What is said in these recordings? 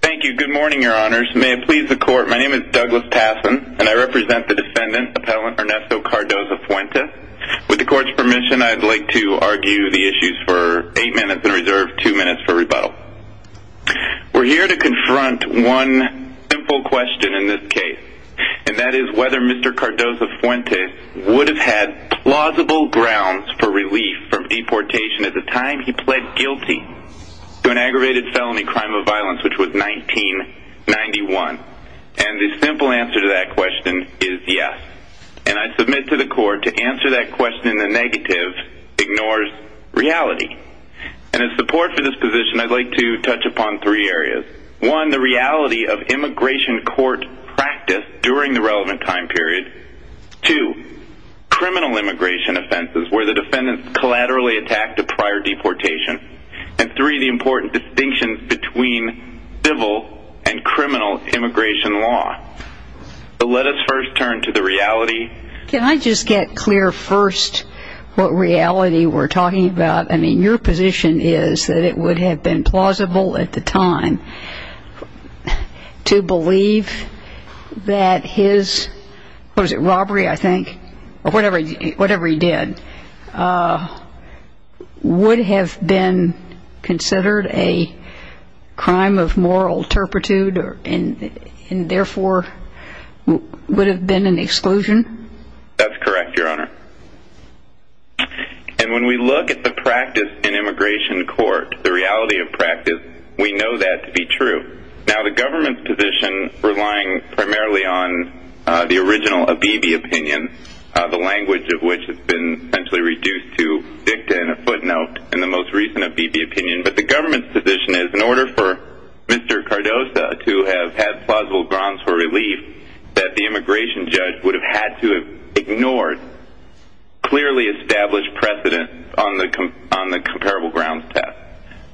Thank you. Good morning, your honors. May it please the court, my name is Douglas Tassin, and I represent the defendant, Appellant Ernesto Cardoza-Fuentes. With the court's permission, I'd like to argue the issues for eight minutes and reserve two minutes for rebuttal. We're here to confront one simple question in this case, and that is whether Mr. Cardoza-Fuentes would have had plausible grounds for relief from deportation at the time he pled guilty to an aggravated felony crime of violence, which was 1991. And the simple answer to that question is yes. And I submit to the court to answer that question in the negative ignores reality. And in support for this position, I'd like to touch upon three areas. One, the reality of immigration court practice during the relevant time period. Two, criminal immigration offenses where the defendant collaterally attacked a prior deportation. And three, the important distinction between civil and criminal immigration law. But let us first turn to the reality. Can I just get clear first what reality we're talking about? I mean, your position is that it would have been plausible at the time to believe that his, what is it, robbery, I think, or whatever he did, would have been considered a crime of moral turpitude and therefore would have been an exclusion? That's correct, Your Honor. And when we look at the practice in immigration court, the reality of practice, we know that to be true. Now the government's position, relying primarily on the original Abebe opinion, the language of which has been essentially reduced to dicta and a footnote in the most recent Abebe opinion, but the government's position is in order for Mr. Cardoso to have had plausible grounds for relief, that the immigration judge would have had to have ignored clearly established precedent on the comparable grounds test.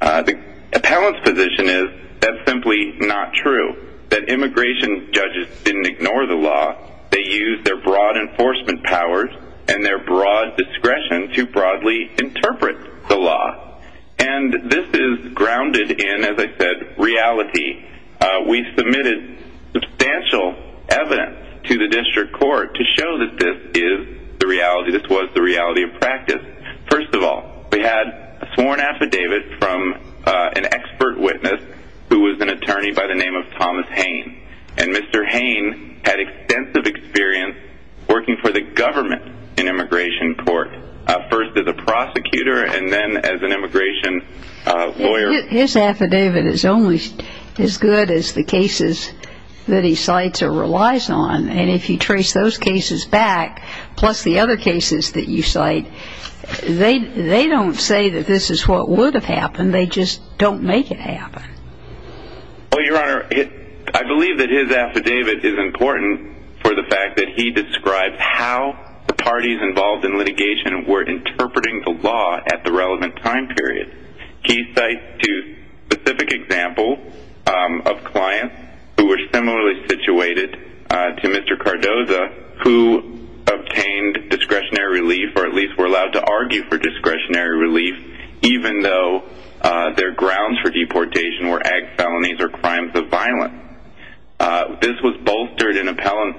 The appellant's position is that's simply not true, that immigration judges didn't ignore the law. They used their broad enforcement powers and their broad discretion to broadly interpret the law. And this is grounded in, as I said, reality. We submitted substantial evidence to the district court to show that this is the reality, this was the reality of practice. First of all, we had a sworn affidavit from an expert witness who was an attorney by the name of Thomas Hayne. And Mr. Hayne had extensive experience working for the government in immigration court, first as a prosecutor and then as an immigration lawyer. His affidavit is only as good as the cases that he cites or relies on. And if you trace those cases back, plus the other cases that you cite, they don't say that this is what would have happened, they just don't make it happen. Well, Your Honor, I believe that his affidavit is important for the fact that he describes how the parties involved in litigation were interpreting the law at the relevant time period. He cites two specific examples of clients who were similarly situated to Mr. Cardoza, who obtained discretionary relief or at least were allowed to argue for discretionary relief, even though their grounds for deportation were ag felonies or crimes of violence. This was bolstered in appellant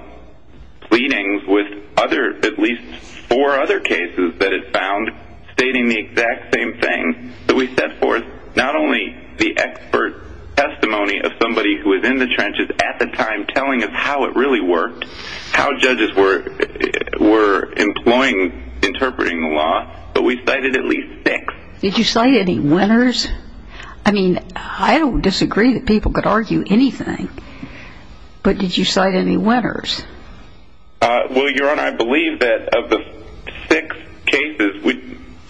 pleadings with at least four other cases that it found stating the exact same thing, that we set forth not only the expert testimony of somebody who was in the trenches at the time telling us how it really worked, how judges were employing, interpreting the law, but we cited at least six. Did you cite any winners? I mean, I don't disagree that people could argue anything, but did you cite any winners? Well, Your Honor, I believe that of the six cases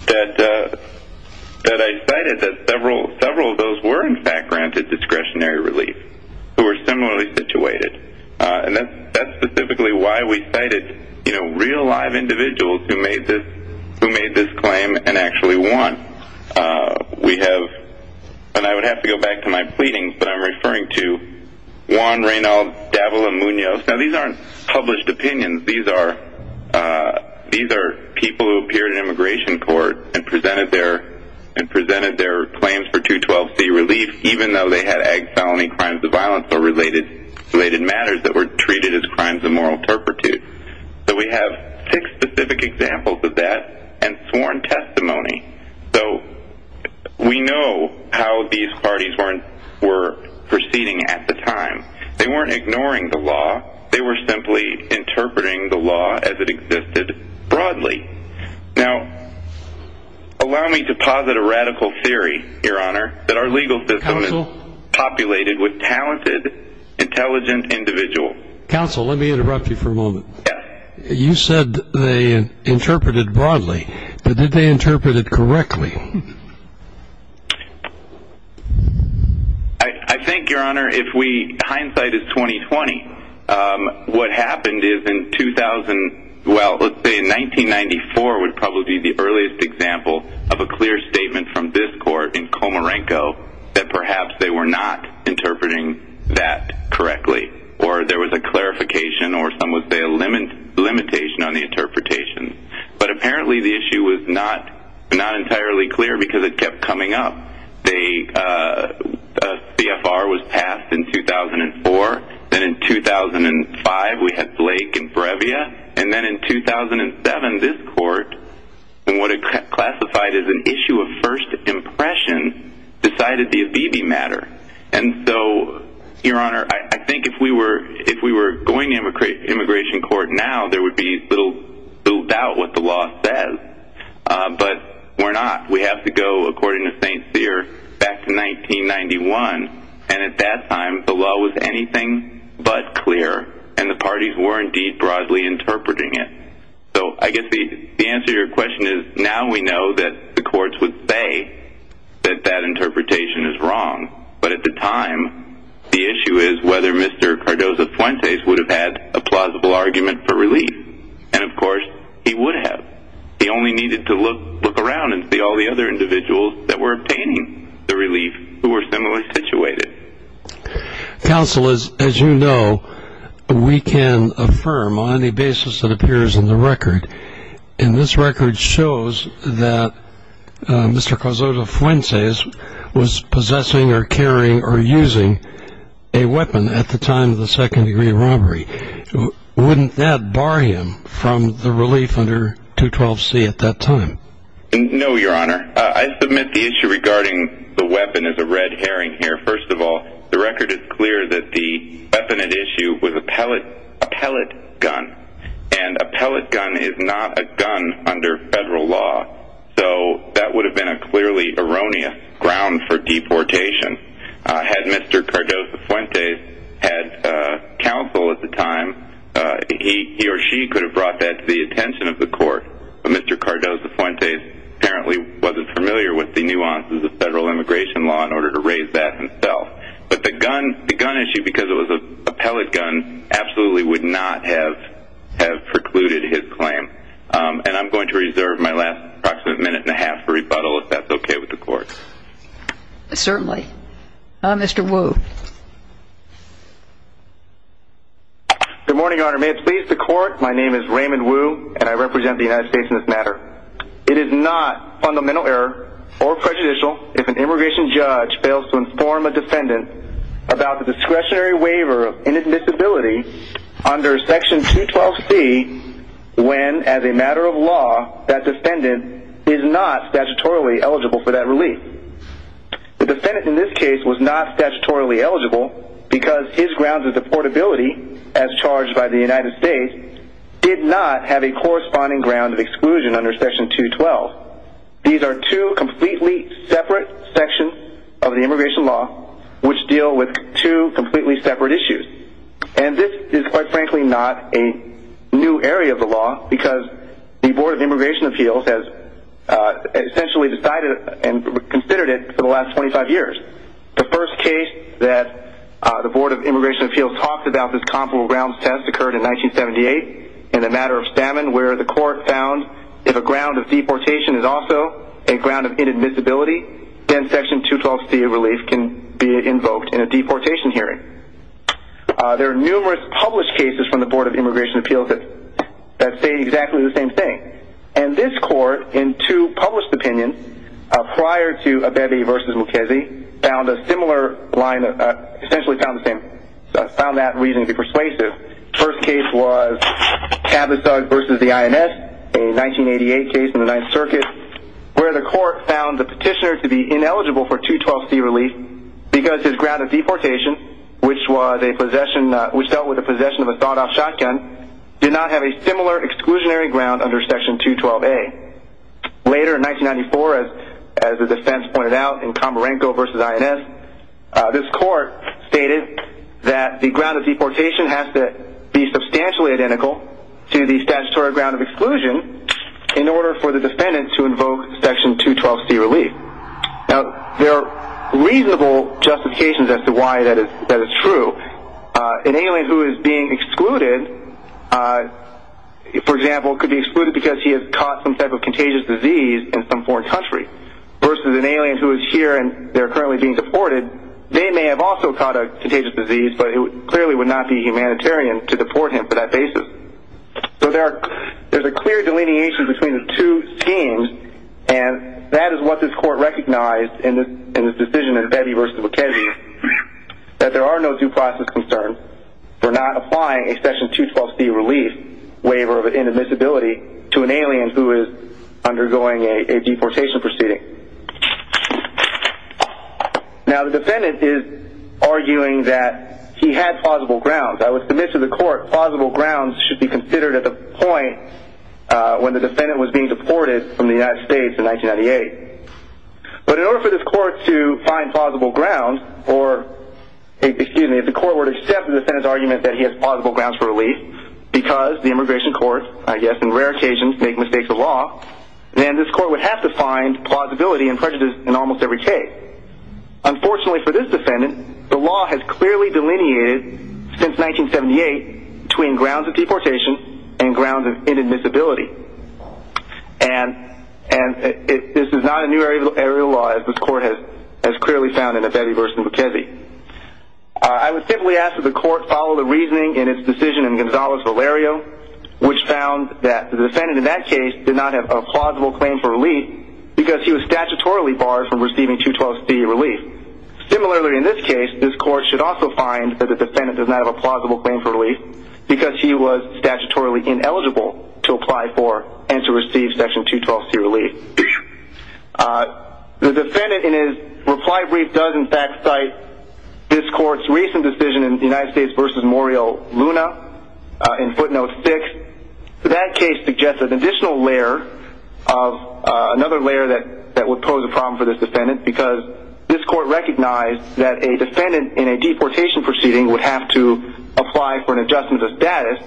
that I cited, that several of those were in fact granted discretionary relief, who were similarly situated. And that's specifically why we cited real, live individuals who made this claim and actually won. We have, and I would have to go back to my pleadings, but I'm referring to Juan Reynalds, Davila, Munoz. Now, these aren't published opinions. These are people who appeared in immigration court and presented their claims for 212C relief, even though they had ag felony crimes of violence or related matters that were treated as crimes of moral turpitude. So we have six specific examples of that and sworn testimony. So we know how these parties were proceeding at the time. They weren't ignoring the law. They were simply interpreting the law as it existed broadly. Now, allow me to posit a radical theory, Your Honor, that our legal system is populated with talented, intelligent individuals. Counsel, let me interrupt you for a moment. You said they interpreted broadly, but did they interpret it correctly? I think, Your Honor, if we, hindsight is 20-20, what happened is in 2000, well, let's say in 1994, would probably be the earliest example of a clear statement from this court in Comarenco that perhaps they were not interpreting that correctly or there was a clarification or some would say a limitation on the interpretation. But apparently the issue was not entirely clear because it kept coming up. The CFR was passed in 2004. Then in 2005, we had Blake and Brevia. And then in 2007, this court, in what it classified as an issue of first impression, decided the Abibi matter. And so, Your Honor, I think if we were going to immigration court now, there would be little doubt what the law says. But we're not. We have to go, according to St. Cyr, back to 1991. And at that time, the law was anything but clear. And the parties were indeed broadly interpreting it. So I guess the answer to your question is now we know that the courts would say that that interpretation is wrong. But at the time, the issue is whether Mr. Cardozo-Fuentes would have had a plausible argument for relief. And, of course, he would have. He only needed to look around and see all the other individuals that were obtaining the relief who were similarly situated. Counsel, as you know, we can affirm on any basis that appears in the record. And this record shows that Mr. Cardozo-Fuentes was possessing or carrying or using a weapon at the time of the second-degree robbery. Wouldn't that bar him from the relief under 212C at that time? No, Your Honor. I submit the issue regarding the weapon is a red herring here, first of all. The record is clear that the weapon at issue was a pellet gun. And a pellet gun is not a gun under federal law. So that would have been a clearly erroneous ground for deportation. Had Mr. Cardozo-Fuentes had counsel at the time, he or she could have brought that to the attention of the court. But Mr. Cardozo-Fuentes apparently wasn't familiar with the nuances of federal immigration law in order to raise that himself. But the gun issue, because it was a pellet gun, absolutely would not have precluded his claim. And I'm going to reserve my last approximate minute and a half for rebuttal if that's okay with the court. Certainly. Mr. Wu. Good morning, Your Honor. May it please the court, my name is Raymond Wu, and I represent the United States in this matter. It is not fundamental error or prejudicial if an immigration judge fails to inform a defendant about the discretionary waiver of inadmissibility under Section 212C when, as a matter of law, that defendant is not statutorily eligible for that relief. The defendant in this case was not statutorily eligible because his grounds of deportability, as charged by the United States, did not have a corresponding ground of exclusion under Section 212. These are two completely separate sections of the immigration law which deal with two completely separate issues. And this is, quite frankly, not a new area of the law because the Board of Immigration Appeals has essentially decided and considered it for the last 25 years. The first case that the Board of Immigration Appeals talked about this comparable grounds test occurred in 1978 in the matter of stamina where the court found if a ground of deportation is also a ground of inadmissibility, then Section 212C relief can be invoked in a deportation hearing. There are numerous published cases from the Board of Immigration Appeals that say exactly the same thing. And this court, in two published opinions prior to Abebe v. Mukesey, essentially found that reason to be persuasive. The first case was Cabasug v. the INS, a 1988 case in the Ninth Circuit, where the court found the petitioner to be ineligible for 212C relief because his ground of deportation, which dealt with the possession of a thought-off shotgun, did not have a similar exclusionary ground under Section 212A. Later, in 1994, as the defense pointed out in Comarenco v. INS, this court stated that the ground of deportation has to be substantially identical to the statutory ground of exclusion in order for the defendant to invoke Section 212C relief. Now, there are reasonable justifications as to why that is true. An alien who is being excluded, for example, could be excluded because he has caught some type of contagious disease in some foreign country, versus an alien who is here and they're currently being deported. They may have also caught a contagious disease, but it clearly would not be humanitarian to deport him for that basis. So, there's a clear delineation between the two schemes, and that is what this court recognized in this decision in Bevy v. Bukhesi, that there are no due process concerns for not applying a Section 212C relief waiver of inadmissibility to an alien who is undergoing a deportation proceeding. Now, the defendant is arguing that he had plausible grounds. I would submit to the court plausible grounds should be considered at the point when the defendant was being deported from the United States in 1998. But in order for this court to find plausible grounds, or, excuse me, if the court were to accept the defendant's argument that he has plausible grounds for relief, because the immigration court, I guess, in rare occasions, make mistakes of law, then this court would have to find plausibility and prejudice in almost every case. Unfortunately for this defendant, the law has clearly delineated, since 1978, between grounds of deportation and grounds of inadmissibility. And this is not a new area of law, as this court has clearly found in Bevy v. Bukhesi. I would simply ask that the court follow the reasoning in its decision in Gonzales-Valerio, which found that the defendant in that case did not have a plausible claim for relief because he was statutorily barred from receiving 212C relief. Similarly, in this case, this court should also find that the defendant does not have a plausible claim for relief because he was statutorily ineligible to apply for and to receive Section 212C relief. The defendant, in his reply brief, does in fact cite this court's recent decision in United States v. Muriel Luna, in footnote 6. That case suggests an additional layer, another layer that would pose a problem for this defendant, because this court recognized that a defendant in a deportation proceeding would have to apply for an adjustment of status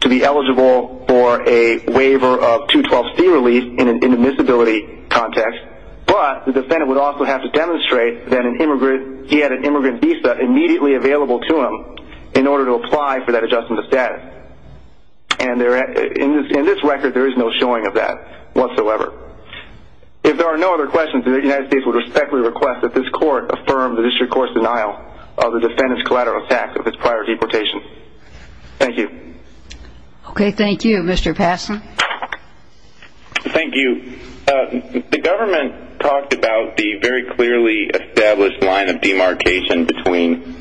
to be eligible for a waiver of 212C relief in an inadmissibility context. But the defendant would also have to demonstrate that he had an immigrant visa immediately available to him in order to apply for that adjustment of status. And in this record, there is no showing of that whatsoever. If there are no other questions, the United States would respectfully request that this court affirm the District Court's denial of the defendant's collateral tax of his prior deportation. Thank you. Okay, thank you. Mr. Passon? Thank you. The government talked about the very clearly established line of demarcation between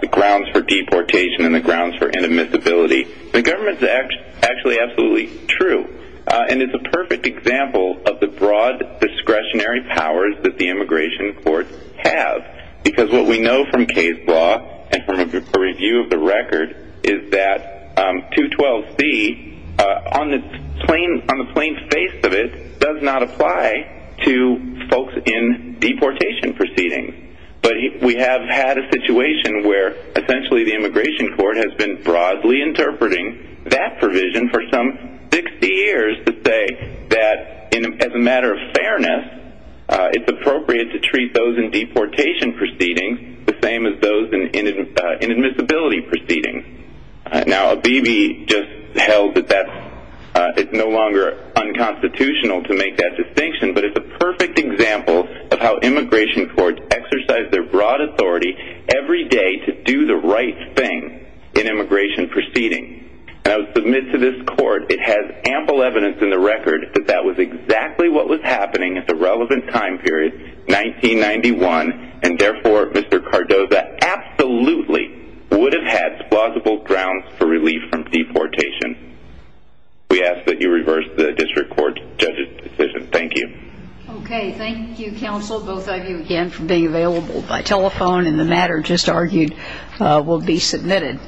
the grounds for deportation and the grounds for inadmissibility. The government's actually absolutely true. And it's a perfect example of the broad discretionary powers that the immigration courts have. Because what we know from case law and from a review of the record is that 212C, on the plain face of it, does not apply to folks in deportation proceedings. But we have had a situation where, essentially, the immigration court has been broadly interpreting that provision for some 60 years to say that, as a matter of fairness, it's appropriate to treat those in deportation proceedings the same as those in inadmissibility proceedings. Now, Abebe just held that that is no longer unconstitutional to make that distinction. But it's a perfect example of how immigration courts exercise their broad authority every day to do the right thing in immigration proceedings. And I would submit to this court, it has ample evidence in the record, that that was exactly what was happening at the relevant time period, 1991. And, therefore, Mr. Cardoza absolutely would have had plausible grounds for relief from deportation. We ask that you reverse the district court judge's decision. Thank you. Okay. Thank you, counsel, both of you, again, for being available by telephone. And the matter just argued will be submitted.